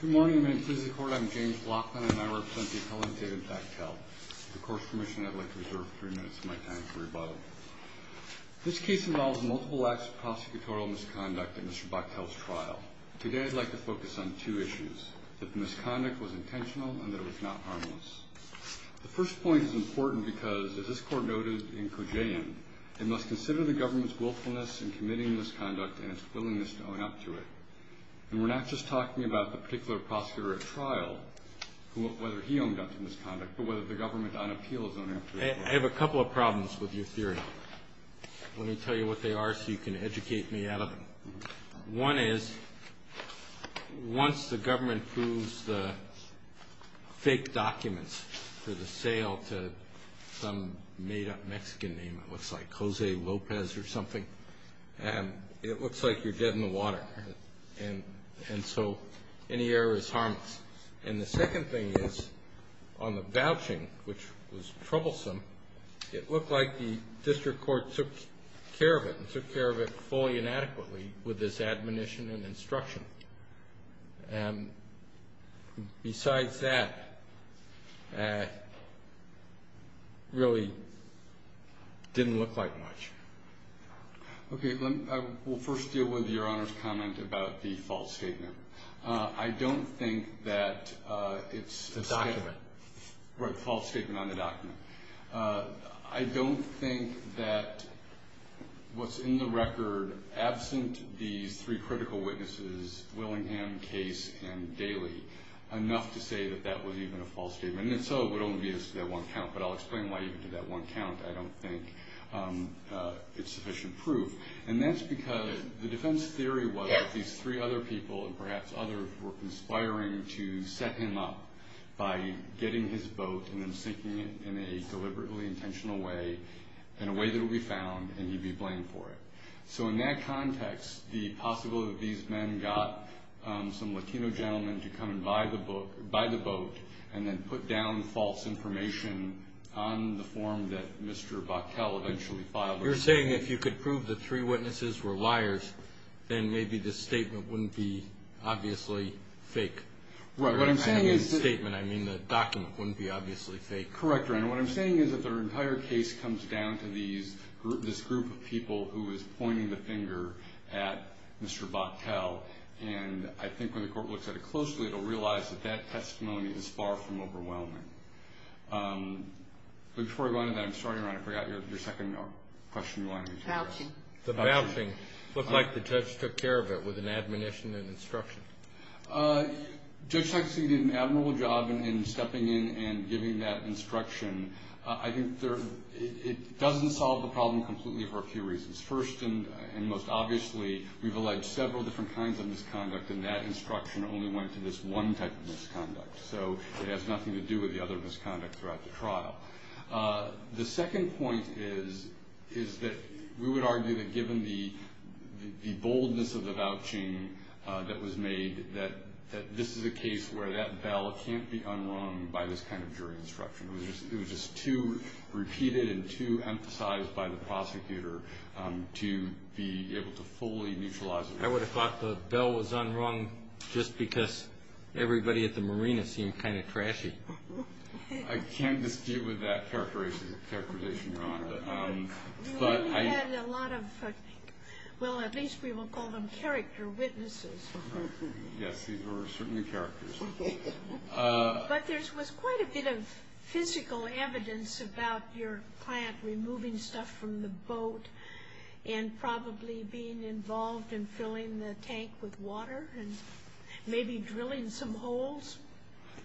Good morning. I'm James Laughlin and I represent the appellant David Bachtel. With the court's permission, I'd like to reserve three minutes of my time for rebuttal. This case involves multiple acts of prosecutorial misconduct at Mr. Bachtel's trial. Today I'd like to focus on two issues, that the misconduct was intentional and that it was not harmless. The first point is important because, as this court noted in Kojean, it must consider the government's willfulness in committing misconduct and its willingness to own up to it. And we're not just talking about the particular prosecutor at trial, whether he owned up to misconduct, but whether the government on appeal has owned up to it. I have a couple of problems with your theory. Let me tell you what they are so you can educate me out of them. One is, once the government approves the fake documents for the sale to some made-up Mexican name, it looks like Jose Lopez or something, it looks like you're dead in the water. And so any error is harmless. And the second thing is, on the vouching, which was troublesome, it looked like the district court took care of it, and took care of it fully and adequately with its admonition and instruction. And besides that, it really didn't look like much. Okay, we'll first deal with Your Honor's comment about the false statement. I don't think that it's... The document. Right, the false statement on the document. I don't think that what's in the record, absent these three critical witnesses, Willingham, Case, and Daley, enough to say that that was even a false statement. And so it would only be as to that one count, but I'll explain why you did that one count. I don't think it's sufficient proof. And that's because the defense theory was that these three other people, and perhaps others, were conspiring to set him up by getting his boat and then sinking it in a deliberately intentional way, in a way that it would be found, and he'd be blamed for it. So in that context, the possibility that these men got some Latino gentleman to come by the boat and then put down false information on the form that Mr. Bochtel eventually filed. You're saying if you could prove the three witnesses were liars, then maybe the statement wouldn't be obviously fake. What I'm saying is... By the statement, I mean the document wouldn't be obviously fake. Correct, Your Honor. What I'm saying is that the entire case comes down to this group of people who is pointing the finger at Mr. Bochtel. And I think when the court looks at it closely, it will realize that that testimony is far from overwhelming. But before I go on to that, I'm sorry, Your Honor, I forgot your second question. Bouching. The bouching. It looked like the judge took care of it with an admonition and instruction. Judge Sexton did an admirable job in stepping in and giving that instruction. I think it doesn't solve the problem completely for a few reasons. First, and most obviously, we've alleged several different kinds of misconduct, and that instruction only went to this one type of misconduct. So it has nothing to do with the other misconduct throughout the trial. The second point is that we would argue that given the boldness of the vouching that was made, that this is a case where that bell can't be unrung by this kind of jury instruction. It was just too repeated and too emphasized by the prosecutor to be able to fully neutralize it. I would have thought the bell was unrung just because everybody at the marina seemed kind of trashy. I can't dispute with that characterization, Your Honor. We only had a lot of, well, at least we won't call them character witnesses. Yes, these were certainly characters. But there was quite a bit of physical evidence about your client removing stuff from the boat and probably being involved in filling the tank with water and maybe drilling some holes.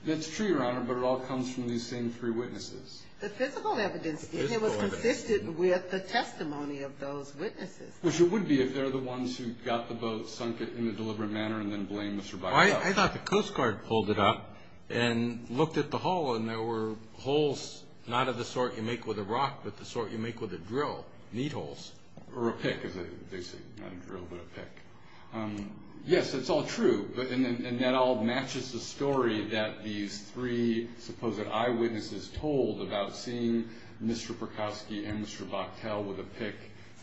That's true, Your Honor, but it all comes from these same three witnesses. The physical evidence did. It was consistent with the testimony of those witnesses. Which it would be if they're the ones who got the boat, sunk it in a deliberate manner, and then blamed Mr. Bicot. I thought the Coast Guard pulled it up and looked at the hole, and there were holes not of the sort you make with a rock but the sort you make with a drill, need holes. Or a pick, as they say. Not a drill, but a pick. Yes, it's all true, and that all matches the story that these three supposed eyewitnesses told about seeing Mr. Perkowski and Mr. Bicot with a pick.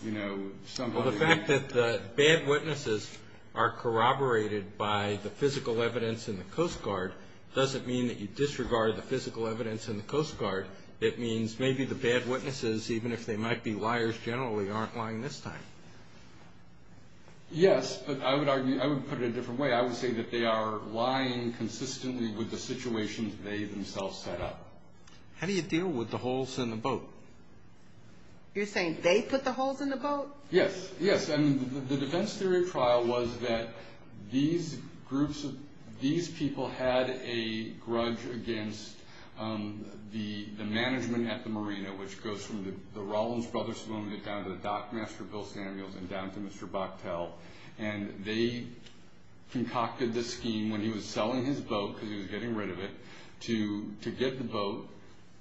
Well, the fact that the bad witnesses are corroborated by the physical evidence in the Coast Guard doesn't mean that you disregard the physical evidence in the Coast Guard. It means maybe the bad witnesses, even if they might be liars generally, aren't lying this time. Yes, but I would put it a different way. I would say that they are lying consistently with the situations they themselves set up. How do you deal with the holes in the boat? You're saying they put the holes in the boat? Yes. Yes, and the defense theory of trial was that these people had a grudge against the management at the marina, which goes from the Rollins Brothers Saloon down to the dockmaster, Bill Samuels, and down to Mr. Boctel. And they concocted this scheme when he was selling his boat, because he was getting rid of it, to get the boat,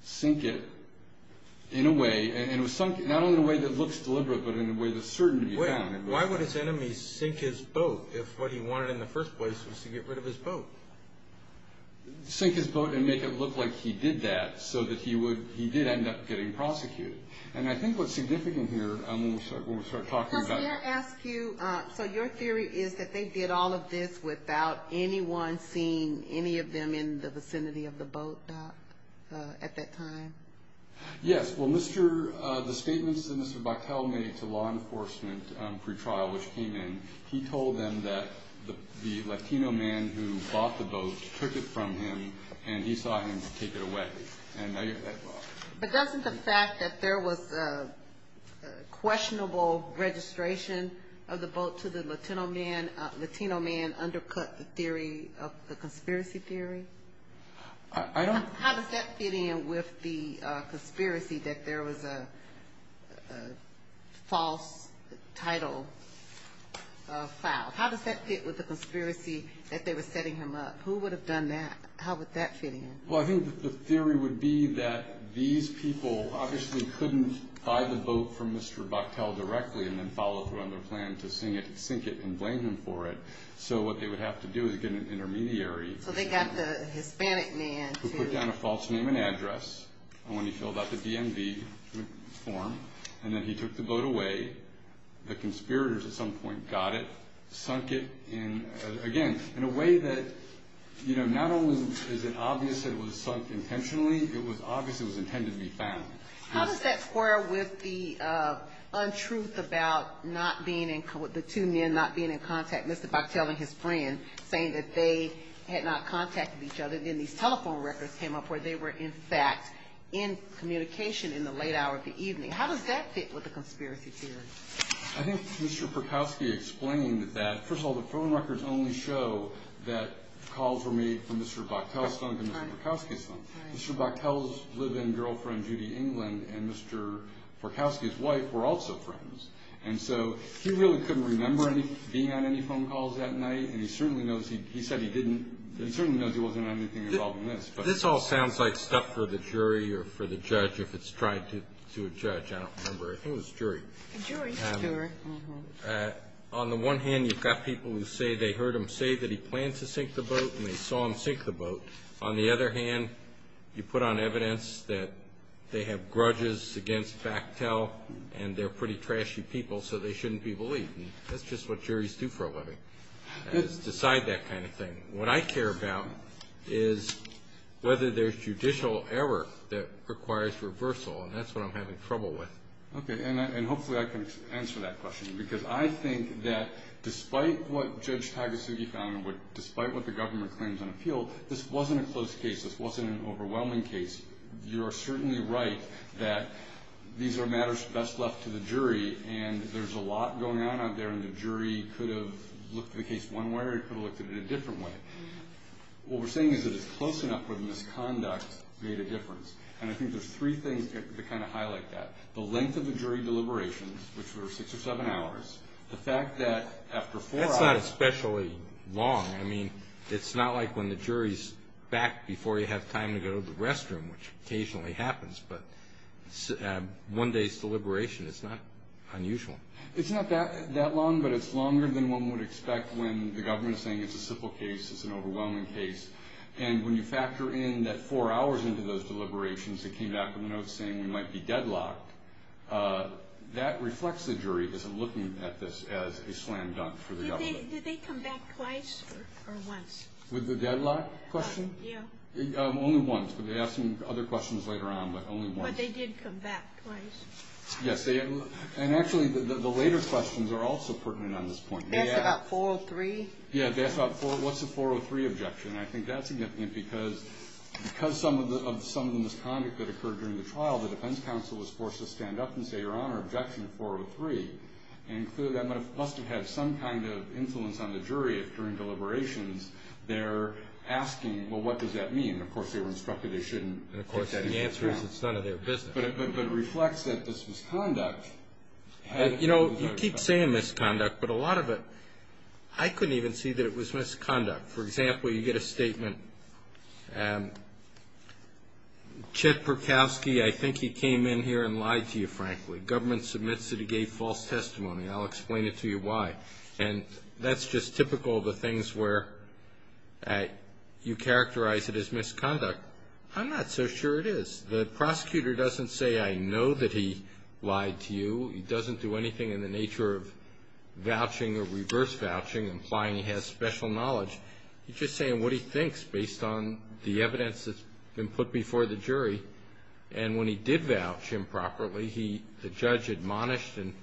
sink it in a way, and not only in a way that looks deliberate, but in a way that's certain to be found. Why would his enemies sink his boat if what he wanted in the first place was to get rid of his boat? Sink his boat and make it look like he did that so that he did end up getting prosecuted. And I think what's significant here, when we start talking about- Can I ask you, so your theory is that they did all of this without anyone seeing any of them in the vicinity of the boat dock at that time? Yes. Well, the statements that Mr. Boctel made to law enforcement pre-trial, which came in, he told them that the Latino man who bought the boat took it from him, and he saw him take it away. But doesn't the fact that there was questionable registration of the boat to the Latino man undercut the conspiracy theory? I don't- How does that fit in with the conspiracy that there was a false title filed? How does that fit with the conspiracy that they were setting him up? Who would have done that? How would that fit in? Well, I think that the theory would be that these people obviously couldn't buy the boat from Mr. Boctel directly and then follow through on their plan to sink it and blame him for it. So what they would have to do is get an intermediary- So they got the Hispanic man to- Who put down a false name and address, and when he filled out the DMV form, and then he took the boat away, the conspirators at some point got it, sunk it, and again, in a way that not only is it obvious it was sunk intentionally, it was obvious it was intended to be found. How does that square with the untruth about the two men not being in contact, Mr. Boctel and his friend, saying that they had not contacted each other, and then these telephone records came up where they were, in fact, in communication in the late hour of the evening? How does that fit with the conspiracy theory? I think Mr. Perkowski explained that. First of all, the phone records only show that calls were made from Mr. Boctel's phone to Mr. Perkowski's phone. Mr. Boctel's live-in girlfriend, Judy England, and Mr. Perkowski's wife were also friends, and so he really couldn't remember being on any phone calls that night, and he certainly knows he wasn't on anything involving this. This all sounds like stuff for the jury or for the judge, if it's tried to a judge. I don't remember. I think it was jury. Jury. On the one hand, you've got people who say they heard him say that he planned to sink the boat, and they saw him sink the boat. On the other hand, you put on evidence that they have grudges against Boctel, and they're pretty trashy people, so they shouldn't be believed, and that's just what juries do for a living is decide that kind of thing. What I care about is whether there's judicial error that requires reversal, and that's what I'm having trouble with. Okay, and hopefully I can answer that question because I think that despite what Judge Tagasugi found and despite what the government claims on appeal, this wasn't a close case. This wasn't an overwhelming case. You're certainly right that these are matters best left to the jury, and there's a lot going on out there, and the jury could have looked at the case one way or it could have looked at it a different way. What we're saying is that it's close enough where the misconduct made a difference, and I think there's three things that kind of highlight that. The length of the jury deliberations, which were six or seven hours. The fact that after four hours. That's not especially long. I mean, it's not like when the jury's back before you have time to go to the restroom, which occasionally happens, but one day's deliberation is not unusual. It's not that long, but it's longer than one would expect when the government is saying it's a simple case, it's an overwhelming case, and when you factor in that four hours into those deliberations that came back with a note saying we might be deadlocked, that reflects the jury as looking at this as a slam dunk for the government. Did they come back twice or once? With the deadlock question? Yeah. Only once, but they asked some other questions later on, but only once. But they did come back twice. Yes, and actually the later questions are also pertinent on this point. That's about 403. Yeah, that's about 403. What's a 403 objection? I think that's significant because some of the misconduct that occurred during the trial, the defense counsel was forced to stand up and say, Your Honor, objection 403, and clearly that must have had some kind of influence on the jury if during deliberations they're asking, well, what does that mean? And, of course, they were instructed they shouldn't. And, of course, the answer is it's none of their business. But it reflects that this misconduct. You know, you keep saying misconduct, but a lot of it I couldn't even see that it was misconduct. For example, you get a statement, Chet Perkowski, I think he came in here and lied to you, frankly. The government submits it, he gave false testimony. I'll explain it to you why. And that's just typical of the things where you characterize it as misconduct. I'm not so sure it is. The prosecutor doesn't say, I know that he lied to you. He doesn't do anything in the nature of vouching or reverse vouching, implying he has special knowledge. He's just saying what he thinks based on the evidence that's been put before the jury. And when he did vouch improperly, the judge admonished and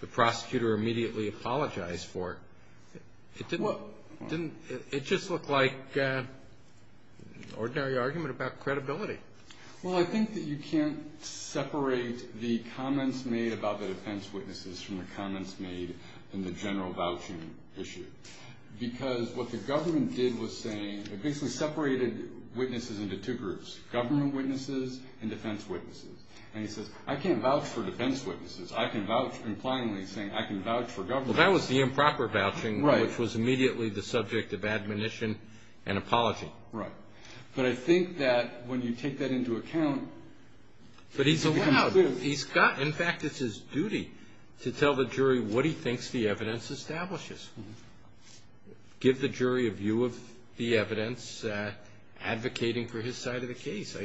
the prosecutor immediately apologized for it. It just looked like an ordinary argument about credibility. Well, I think that you can't separate the comments made about the defense witnesses from the comments made in the general vouching issue. Because what the government did was saying, it basically separated witnesses into two groups, government witnesses and defense witnesses. And he says, I can't vouch for defense witnesses. I can vouch, implyingly saying, I can vouch for government witnesses. Well, that was the improper vouching, which was immediately the subject of admonition and apology. Right. But I think that when you take that into account. But he's allowed, he's got, in fact, it's his duty to tell the jury what he thinks the evidence establishes. Give the jury a view of the evidence advocating for his side of the case.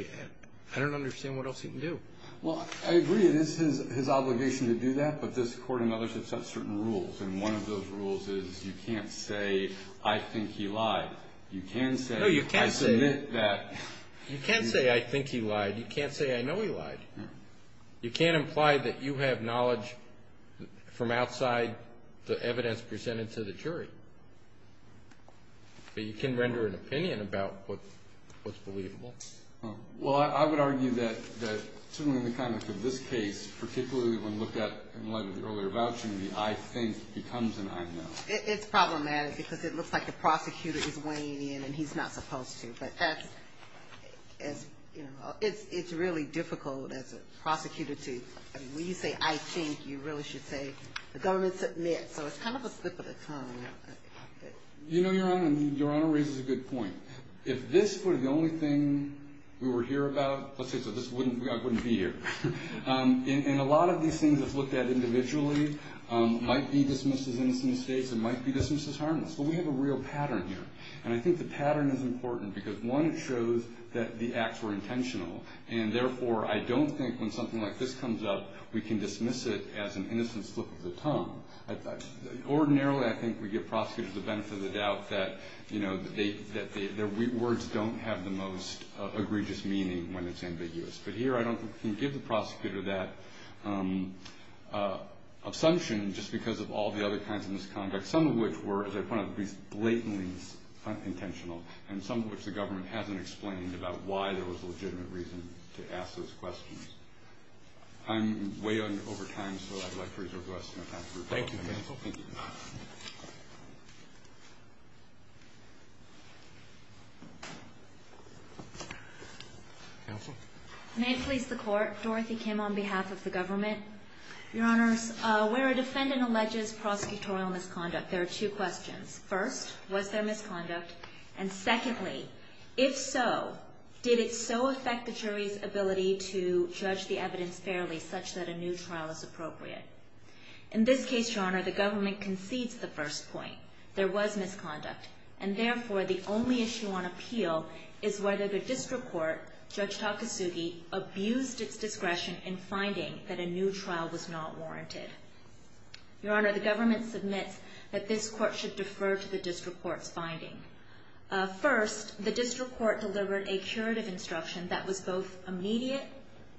I don't understand what else he can do. Well, I agree. It is his obligation to do that. But this court and others have set certain rules. And one of those rules is you can't say, I think he lied. You can say, I submit that. You can't say, I think he lied. You can't say, I know he lied. You can't imply that you have knowledge from outside the evidence presented to the jury. But you can render an opinion about what's believable. Well, I would argue that in the context of this case, particularly when looked at in light of the earlier vouching, the I think becomes an I know. It's problematic because it looks like the prosecutor is weighing in and he's not supposed to. But that's, you know, it's really difficult as a prosecutor to, I mean, when you say I think, you really should say the government submits. So it's kind of a slip of the tongue. You know, Your Honor, I mean, Your Honor raises a good point. If this were the only thing we were here about, let's say I wouldn't be here. And a lot of these things that's looked at individually might be dismissed as innocent states. It might be dismissed as harmless. But we have a real pattern here. And I think the pattern is important because, one, it shows that the acts were intentional. And, therefore, I don't think when something like this comes up, we can dismiss it as an innocent slip of the tongue. Ordinarily, I think we give prosecutors the benefit of the doubt that, you know, their words don't have the most egregious meaning when it's ambiguous. But here I don't think we can give the prosecutor that assumption just because of all the other kinds of misconduct, some of which were, as I pointed out, blatantly unintentional, and some of which the government hasn't explained about why there was legitimate reason to ask those questions. I'm way over time, so I'd like to reserve the rest of my time for questions. Thank you, Your Honor. Thank you. Counsel? May it please the Court, Dorothy Kim on behalf of the government. Your Honors, where a defendant alleges prosecutorial misconduct, there are two questions. First, was there misconduct? And, secondly, if so, did it so affect the jury's ability to judge the evidence fairly such that a new trial is appropriate? In this case, Your Honor, the government concedes the first point. There was misconduct. And, therefore, the only issue on appeal is whether the district court, Judge Takasugi, abused its discretion in finding that a new trial was not warranted. Your Honor, the government submits that this court should defer to the district court's finding. First, the district court delivered a curative instruction that was both immediate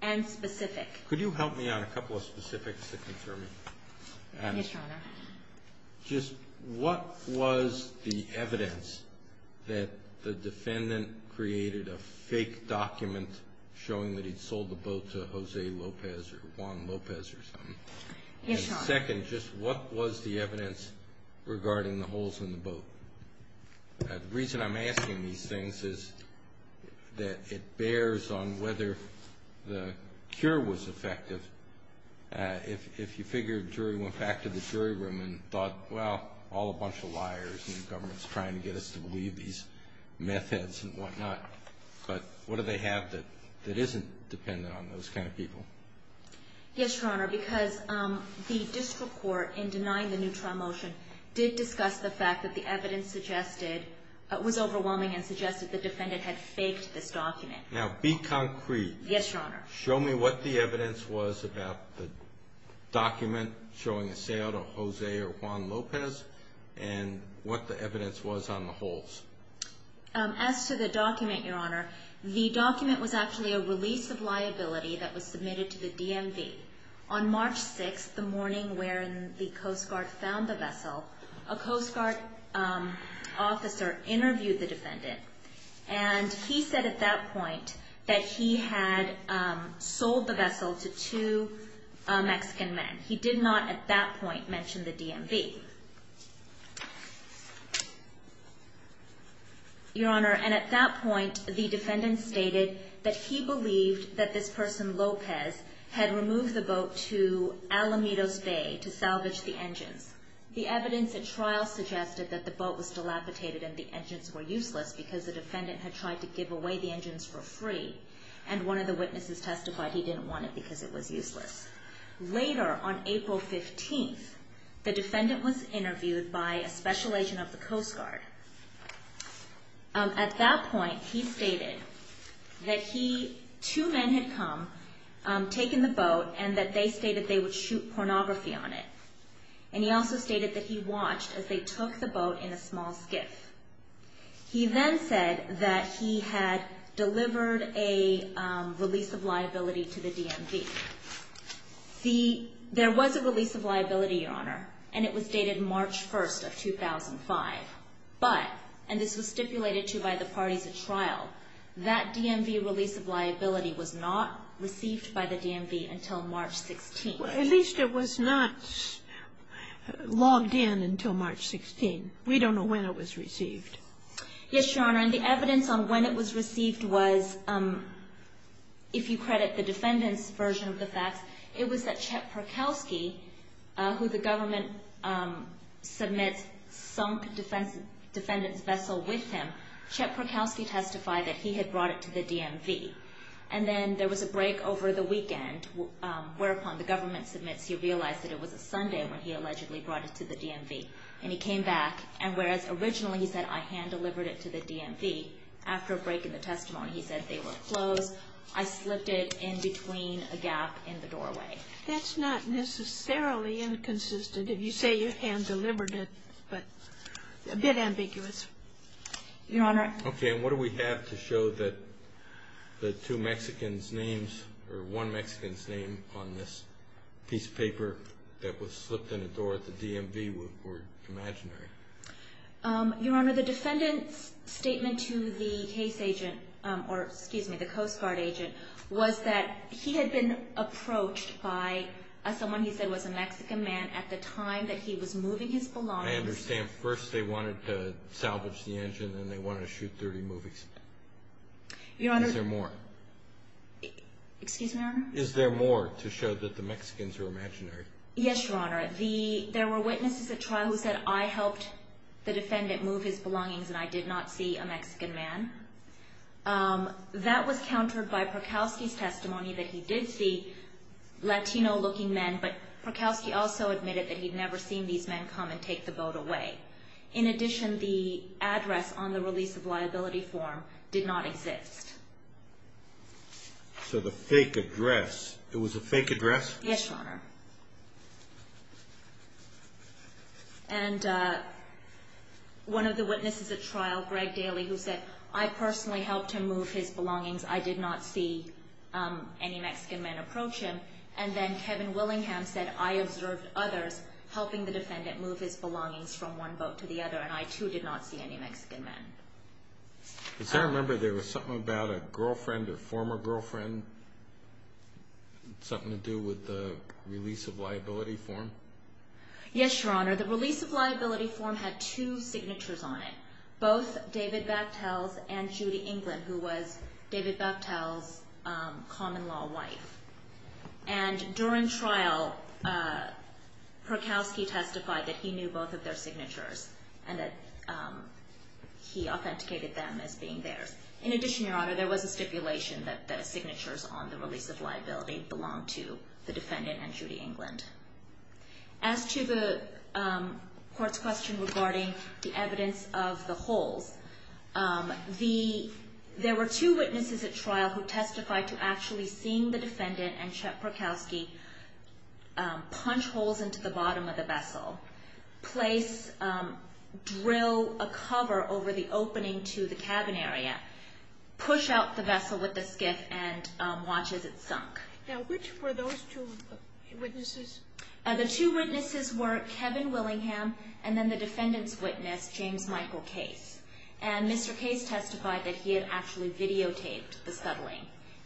and specific. Could you help me on a couple of specifics to confirm? Yes, Your Honor. Just what was the evidence that the defendant created a fake document showing that he'd sold the boat to Jose Lopez or Juan Lopez or something? Yes, Your Honor. And, second, just what was the evidence regarding the holes in the boat? The reason I'm asking these things is that it bears on whether the cure was effective. If you figure the jury went back to the jury room and thought, well, all a bunch of liars, and the government's trying to get us to believe these meth heads and whatnot. But what do they have that isn't dependent on those kind of people? Yes, Your Honor, because the district court, in denying the new trial motion, did discuss the fact that the evidence was overwhelming and suggested the defendant had faked this document. Now, be concrete. Yes, Your Honor. Show me what the evidence was about the document showing a sale to Jose or Juan Lopez, and what the evidence was on the holes. As to the document, Your Honor, the document was actually a release of liability that was submitted to the DMV. On March 6th, the morning where the Coast Guard found the vessel, a Coast Guard officer interviewed the defendant. And he said at that point that he had sold the vessel to two Mexican men. He did not at that point mention the DMV. Your Honor, and at that point, the defendant stated that he believed that this person, Lopez, had removed the boat to Alamitos Bay to salvage the engines. The evidence at trial suggested that the boat was dilapidated and the engines were useless because the defendant had tried to give away the engines for free, and one of the witnesses testified he didn't want it because it was useless. Later, on April 15th, the defendant was interviewed by a special agent of the Coast Guard. At that point, he stated that two men had come, taken the boat, and that they stated they would shoot pornography on it. And he also stated that he watched as they took the boat in a small skiff. He then said that he had delivered a release of liability to the DMV. See, there was a release of liability, Your Honor, and it was dated March 1st of 2005. But, and this was stipulated to by the parties at trial, that DMV release of liability was not received by the DMV until March 16th. At least it was not logged in until March 16th. We don't know when it was received. Yes, Your Honor, and the evidence on when it was received was, if you credit the defendant's version of the facts, it was that Chet Perkowski, who the government submits sunk defendant's vessel with him, Chet Perkowski testified that he had brought it to the DMV. And then there was a break over the weekend, whereupon the government submits he realized that it was a Sunday when he allegedly brought it to the DMV. And he came back, and whereas originally he said, I hand-delivered it to the DMV, after a break in the testimony, he said they were closed, I slipped it in between a gap in the doorway. That's not necessarily inconsistent if you say you hand-delivered it, but a bit ambiguous, Your Honor. Okay, and what do we have to show that the two Mexicans' names, or one Mexican's name on this piece of paper that was slipped in a door at the DMV were imaginary? Your Honor, the defendant's statement to the case agent, or excuse me, the Coast Guard agent, was that he had been approached by someone he said was a Mexican man at the time that he was moving his belongings. I understand first they wanted to salvage the engine, and then they wanted to shoot 30 movies. Is there more? Excuse me, Your Honor? Is there more to show that the Mexicans are imaginary? Yes, Your Honor. There were witnesses at trial who said, I helped the defendant move his belongings, and I did not see a Mexican man. That was countered by Prokowski's testimony that he did see Latino-looking men, but Prokowski also admitted that he'd never seen these men come and take the boat away. In addition, the address on the release of liability form did not exist. So the fake address, it was a fake address? Yes, Your Honor. And one of the witnesses at trial, Greg Daly, who said, I personally helped him move his belongings. I did not see any Mexican men approach him. And then Kevin Willingham said, I observed others helping the defendant move his belongings from one boat to the other, and I, too, did not see any Mexican men. Does that remember there was something about a girlfriend or former girlfriend, something to do with the release of liability form? Yes, Your Honor. The release of liability form had two signatures on it, both David Bakhtel's and Judy England, who was David Bakhtel's common-law wife. And during trial, Prokowski testified that he knew both of their signatures and that he authenticated them as being theirs. In addition, Your Honor, there was a stipulation that the signatures on the release of liability belonged to the defendant and Judy England. As to the Court's question regarding the evidence of the holes, there were two witnesses at trial who testified to actually seeing the defendant and Chuck Prokowski punch holes into the bottom of the vessel, place, drill a cover over the opening to the cabin area, push out the vessel with the skiff, and watch as it sunk. Now, which were those two witnesses? The two witnesses were Kevin Willingham and then the defendant's witness, James Michael Case. And Mr. Case testified that he had actually videotaped the settling.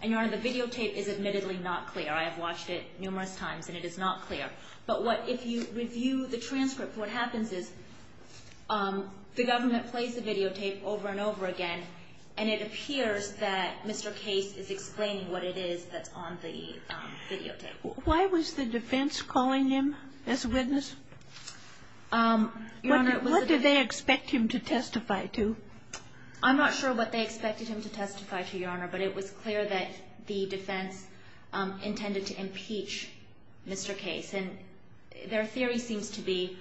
And, Your Honor, the videotape is admittedly not clear. I have watched it numerous times, and it is not clear. But if you review the transcript, what happens is the government plays the videotape over and over again, and it appears that Mr. Case is explaining what it is that's on the videotape. Why was the defense calling him as a witness? Your Honor, what did they expect him to testify to? I'm not sure what they expected him to testify to, Your Honor, but it was clear that the defense intended to impeach Mr. Case. And their theory seems to be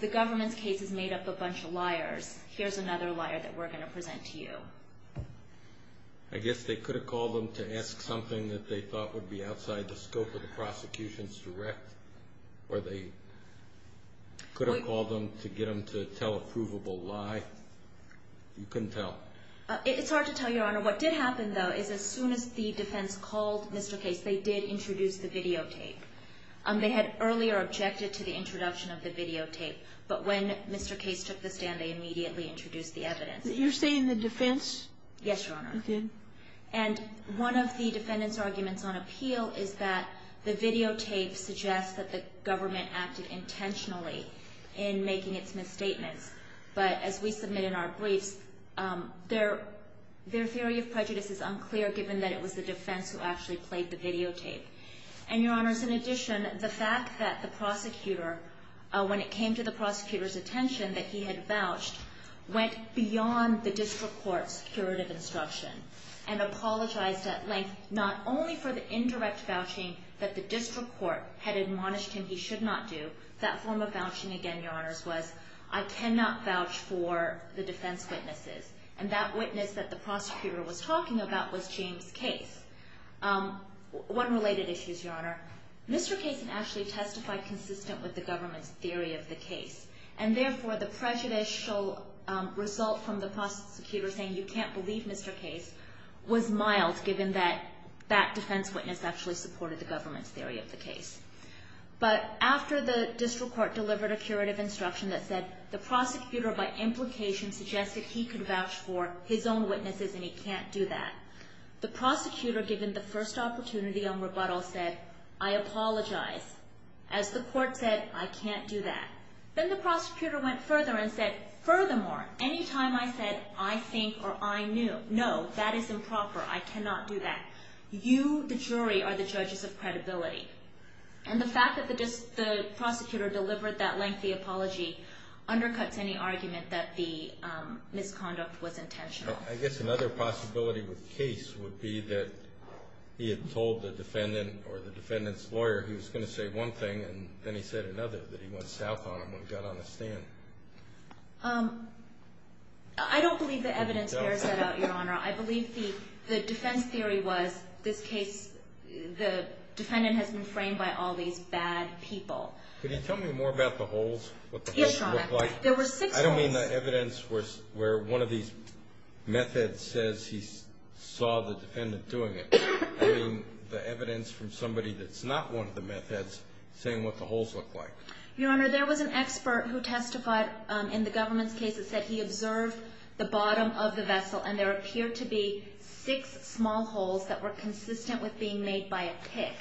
the government's case is made up of a bunch of liars. Here's another liar that we're going to present to you. I guess they could have called him to ask something that they thought would be outside the scope of the prosecution's direct, or they could have called him to get him to tell a provable lie. You couldn't tell. It's hard to tell, Your Honor. What did happen, though, is as soon as the defense called Mr. Case, they did introduce the videotape. They had earlier objected to the introduction of the videotape. But when Mr. Case took the stand, they immediately introduced the evidence. You're saying the defense did? Yes, Your Honor. And one of the defendant's arguments on appeal is that the videotape suggests that the government acted intentionally in making its misstatements. But as we submit in our briefs, their theory of prejudice is unclear, given that it was the defense who actually played the videotape. And, Your Honors, in addition, the fact that the prosecutor, when it came to the prosecutor's attention that he had vouched, went beyond the district court's curative instruction and apologized at length, not only for the indirect vouching that the district court had admonished him he should not do. That form of vouching, again, Your Honors, was, I cannot vouch for the defense witnesses. And that witness that the prosecutor was talking about was James Case. One related issue is, Your Honor, Mr. Case actually testified consistent with the government's theory of the case. And, therefore, the prejudicial result from the prosecutor saying you can't believe Mr. Case was mild, given that that defense witness actually supported the government's theory of the case. But after the district court delivered a curative instruction that said the prosecutor, by implication, suggested he could vouch for his own witnesses and he can't do that, the prosecutor, given the first opportunity on rebuttal, said, I apologize. As the court said, I can't do that. Then the prosecutor went further and said, furthermore, any time I said I think or I knew, no, that is improper. I cannot do that. You, the jury, are the judges of credibility. And the fact that the prosecutor delivered that lengthy apology undercuts any argument that the misconduct was intentional. I guess another possibility with Case would be that he had told the defendant or the defendant's lawyer he was going to say one thing and then he said another, that he went south on him when he got on the stand. I don't believe the evidence there set out, Your Honor. I believe the defense theory was this case, the defendant has been framed by all these bad people. Could you tell me more about the holes, what the holes looked like? Yes, Your Honor. There were six holes. I don't mean the evidence where one of these methods says he saw the defendant doing it. I mean the evidence from somebody that's not one of the methods saying what the holes looked like. Your Honor, there was an expert who testified in the government's case that said he observed the bottom of the vessel and there appeared to be six small holes that were consistent with being made by a pick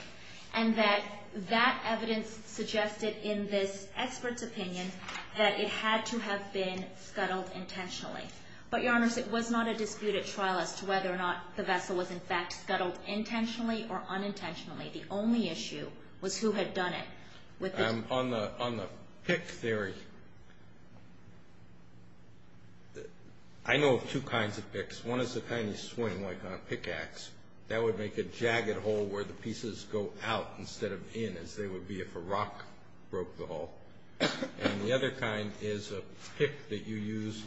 and that that evidence suggested in this expert's opinion that it had to have been scuttled intentionally. But, Your Honors, it was not a disputed trial as to whether or not the vessel was in fact scuttled intentionally or unintentionally. The only issue was who had done it. On the pick theory, I know of two kinds of picks. One is the kind you swing like on a pickaxe. That would make a jagged hole where the pieces go out instead of in as they would be if a rock broke the hole. And the other kind is a pick that you use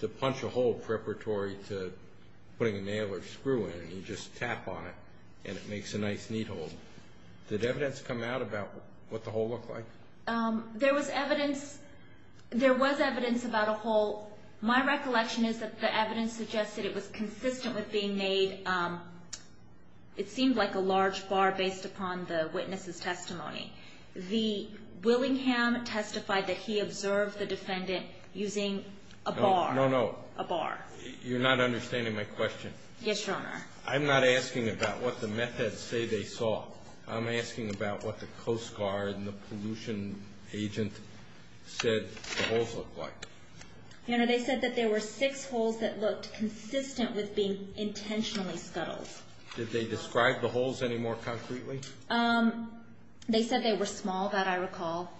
to punch a hole preparatory to putting a nail or screw in. You just tap on it and it makes a nice neat hole. Did evidence come out about what the hole looked like? There was evidence about a hole. My recollection is that the evidence suggested it was consistent with being made. It seemed like a large bar based upon the witness's testimony. The Willingham testified that he observed the defendant using a bar. No, no, no. A bar. You're not understanding my question. Yes, Your Honor. I'm not asking about what the meth heads say they saw. I'm asking about what the Coast Guard and the pollution agent said the holes looked like. Your Honor, they said that there were six holes that looked consistent with being intentionally scuttled. Did they describe the holes any more concretely? They said they were small, that I recall.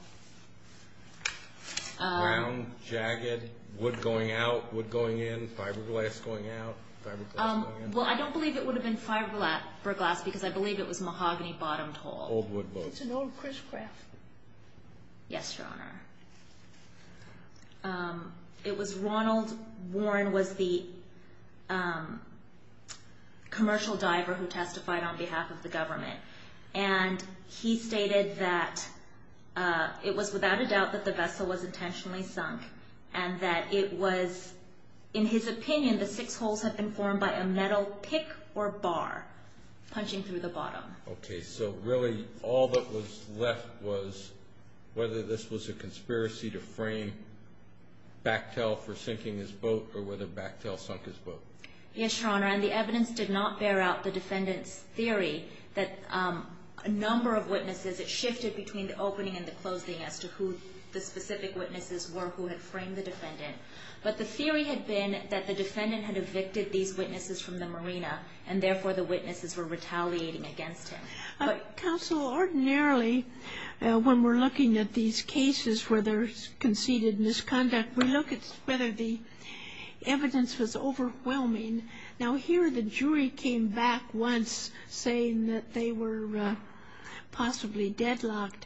Round, jagged, wood going out, wood going in, fiberglass going out, fiberglass going in. Well, I don't believe it would have been fiberglass because I believe it was mahogany bottomed hole. It's an old crisscross. Yes, Your Honor. It was Ronald Warren was the commercial diver who testified on behalf of the government. And he stated that it was without a doubt that the vessel was intentionally sunk and that it was, in his opinion, the six holes had been formed by a metal pick or bar punching through the bottom. Okay. So really all that was left was whether this was a conspiracy to frame Bactell for sinking his boat or whether Bactell sunk his boat. Yes, Your Honor. And the evidence did not bear out the defendant's theory that a number of witnesses, it shifted between the opening and the closing as to who the specific witnesses were who had framed the defendant. But the theory had been that the defendant had evicted these witnesses from the marina, and therefore the witnesses were retaliating against him. Counsel, ordinarily when we're looking at these cases where there's conceded misconduct, we look at whether the evidence was overwhelming. Now here the jury came back once saying that they were possibly deadlocked.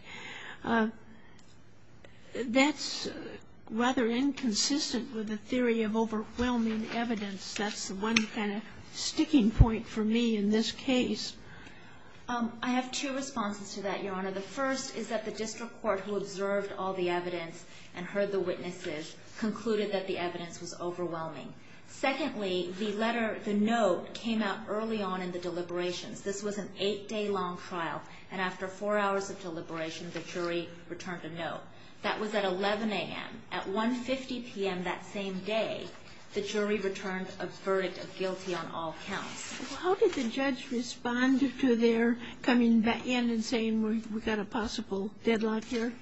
That's rather inconsistent with the theory of overwhelming evidence. That's one kind of sticking point for me in this case. I have two responses to that, Your Honor. The first is that the district court who observed all the evidence and heard the witnesses concluded that the evidence was overwhelming. Secondly, the letter, the note came out early on in the deliberations. This was an eight-day-long trial, and after four hours of deliberation, the jury returned a note. That was at 11 a.m. At 1.50 p.m. that same day, the jury returned a verdict of guilty on all counts. Well, how did the judge respond to their coming back in and saying we've got a possible deadlock here?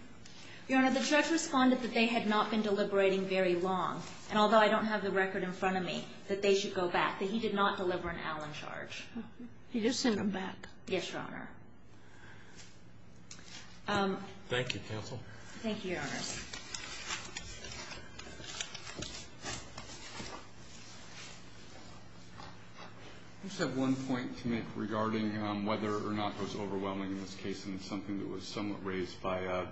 Your Honor, the judge responded that they had not been deliberating very long. And although I don't have the record in front of me that they should go back, that he did not deliver an Allen charge. He just sent them back. Yes, Your Honor. Thank you, counsel. Thank you, Your Honor. I just have one point to make regarding whether or not it was overwhelming in this case, and it's something that was somewhat raised by a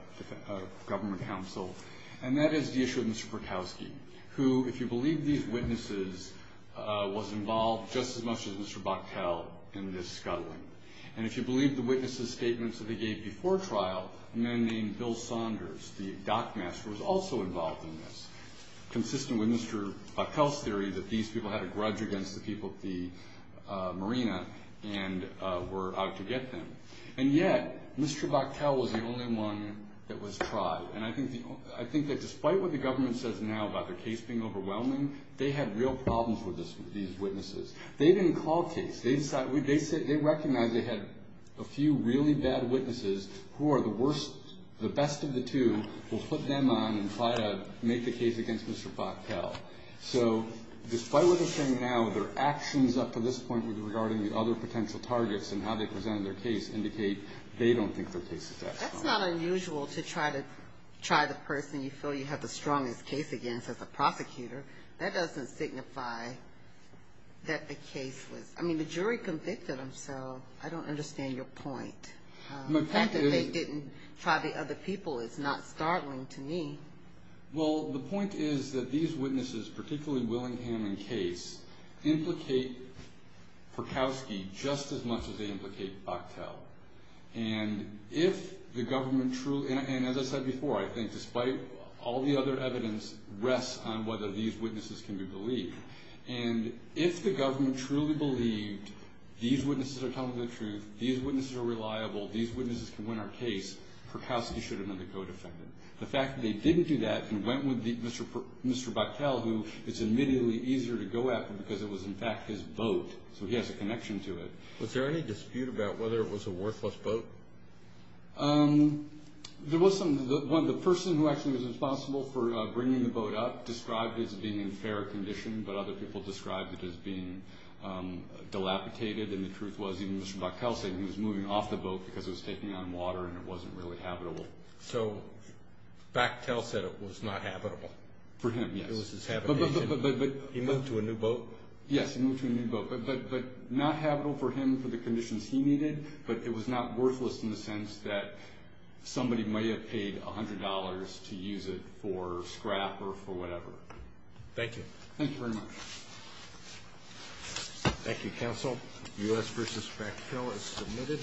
government counsel, and that is the issue of Mr. Borkowski, who, if you believe these witnesses, was involved just as much as Mr. Boktel in this scuttling. And if you believe the witnesses' statements that they gave before trial, a man named Bill Saunders, the dockmaster, was also involved in this, consistent with Mr. Boktel's theory that these people had a grudge against the people at the marina and were out to get them. And yet, Mr. Boktel was the only one that was tried. And I think that despite what the government says now about their case being overwhelming, they had real problems with these witnesses. They didn't call a case. They recognized they had a few really bad witnesses who are the worst, the best of the two, will put them on and try to make the case against Mr. Boktel. So despite what they're saying now, their actions up to this point regarding the other potential targets and how they presented their case indicate they don't think their case is that strong. That's not unusual to try to try the person you feel you have the strongest case against as a prosecutor. That doesn't signify that the case was – I mean, the jury convicted them, so I don't understand your point. The fact that they didn't try the other people is not startling to me. Well, the point is that these witnesses, particularly Willingham and Case, implicate Perkowski just as much as they implicate Boktel. And if the government truly – and as I said before, I think, despite all the other evidence rests on whether these witnesses can be believed. And if the government truly believed these witnesses are telling the truth, these witnesses are reliable, these witnesses can win our case, Perkowski should have been the co-defendant. The fact that they didn't do that and went with Mr. Boktel, who it's immediately easier to go after because it was, in fact, his vote, so he has a connection to it. Was there any dispute about whether it was a worthless boat? There was some. The person who actually was responsible for bringing the boat up described it as being in fair condition, but other people described it as being dilapidated. And the truth was even Mr. Boktel said he was moving off the boat because it was taking on water and it wasn't really habitable. So Boktel said it was not habitable? For him, yes. It was his habitation. He moved to a new boat? Yes, he moved to a new boat. But not habitable for him for the conditions he needed, but it was not worthless in the sense that somebody may have paid $100 to use it for scrap or for whatever. Thank you. Thank you very much. Thank you, counsel. U.S. v. Boktel is submitted.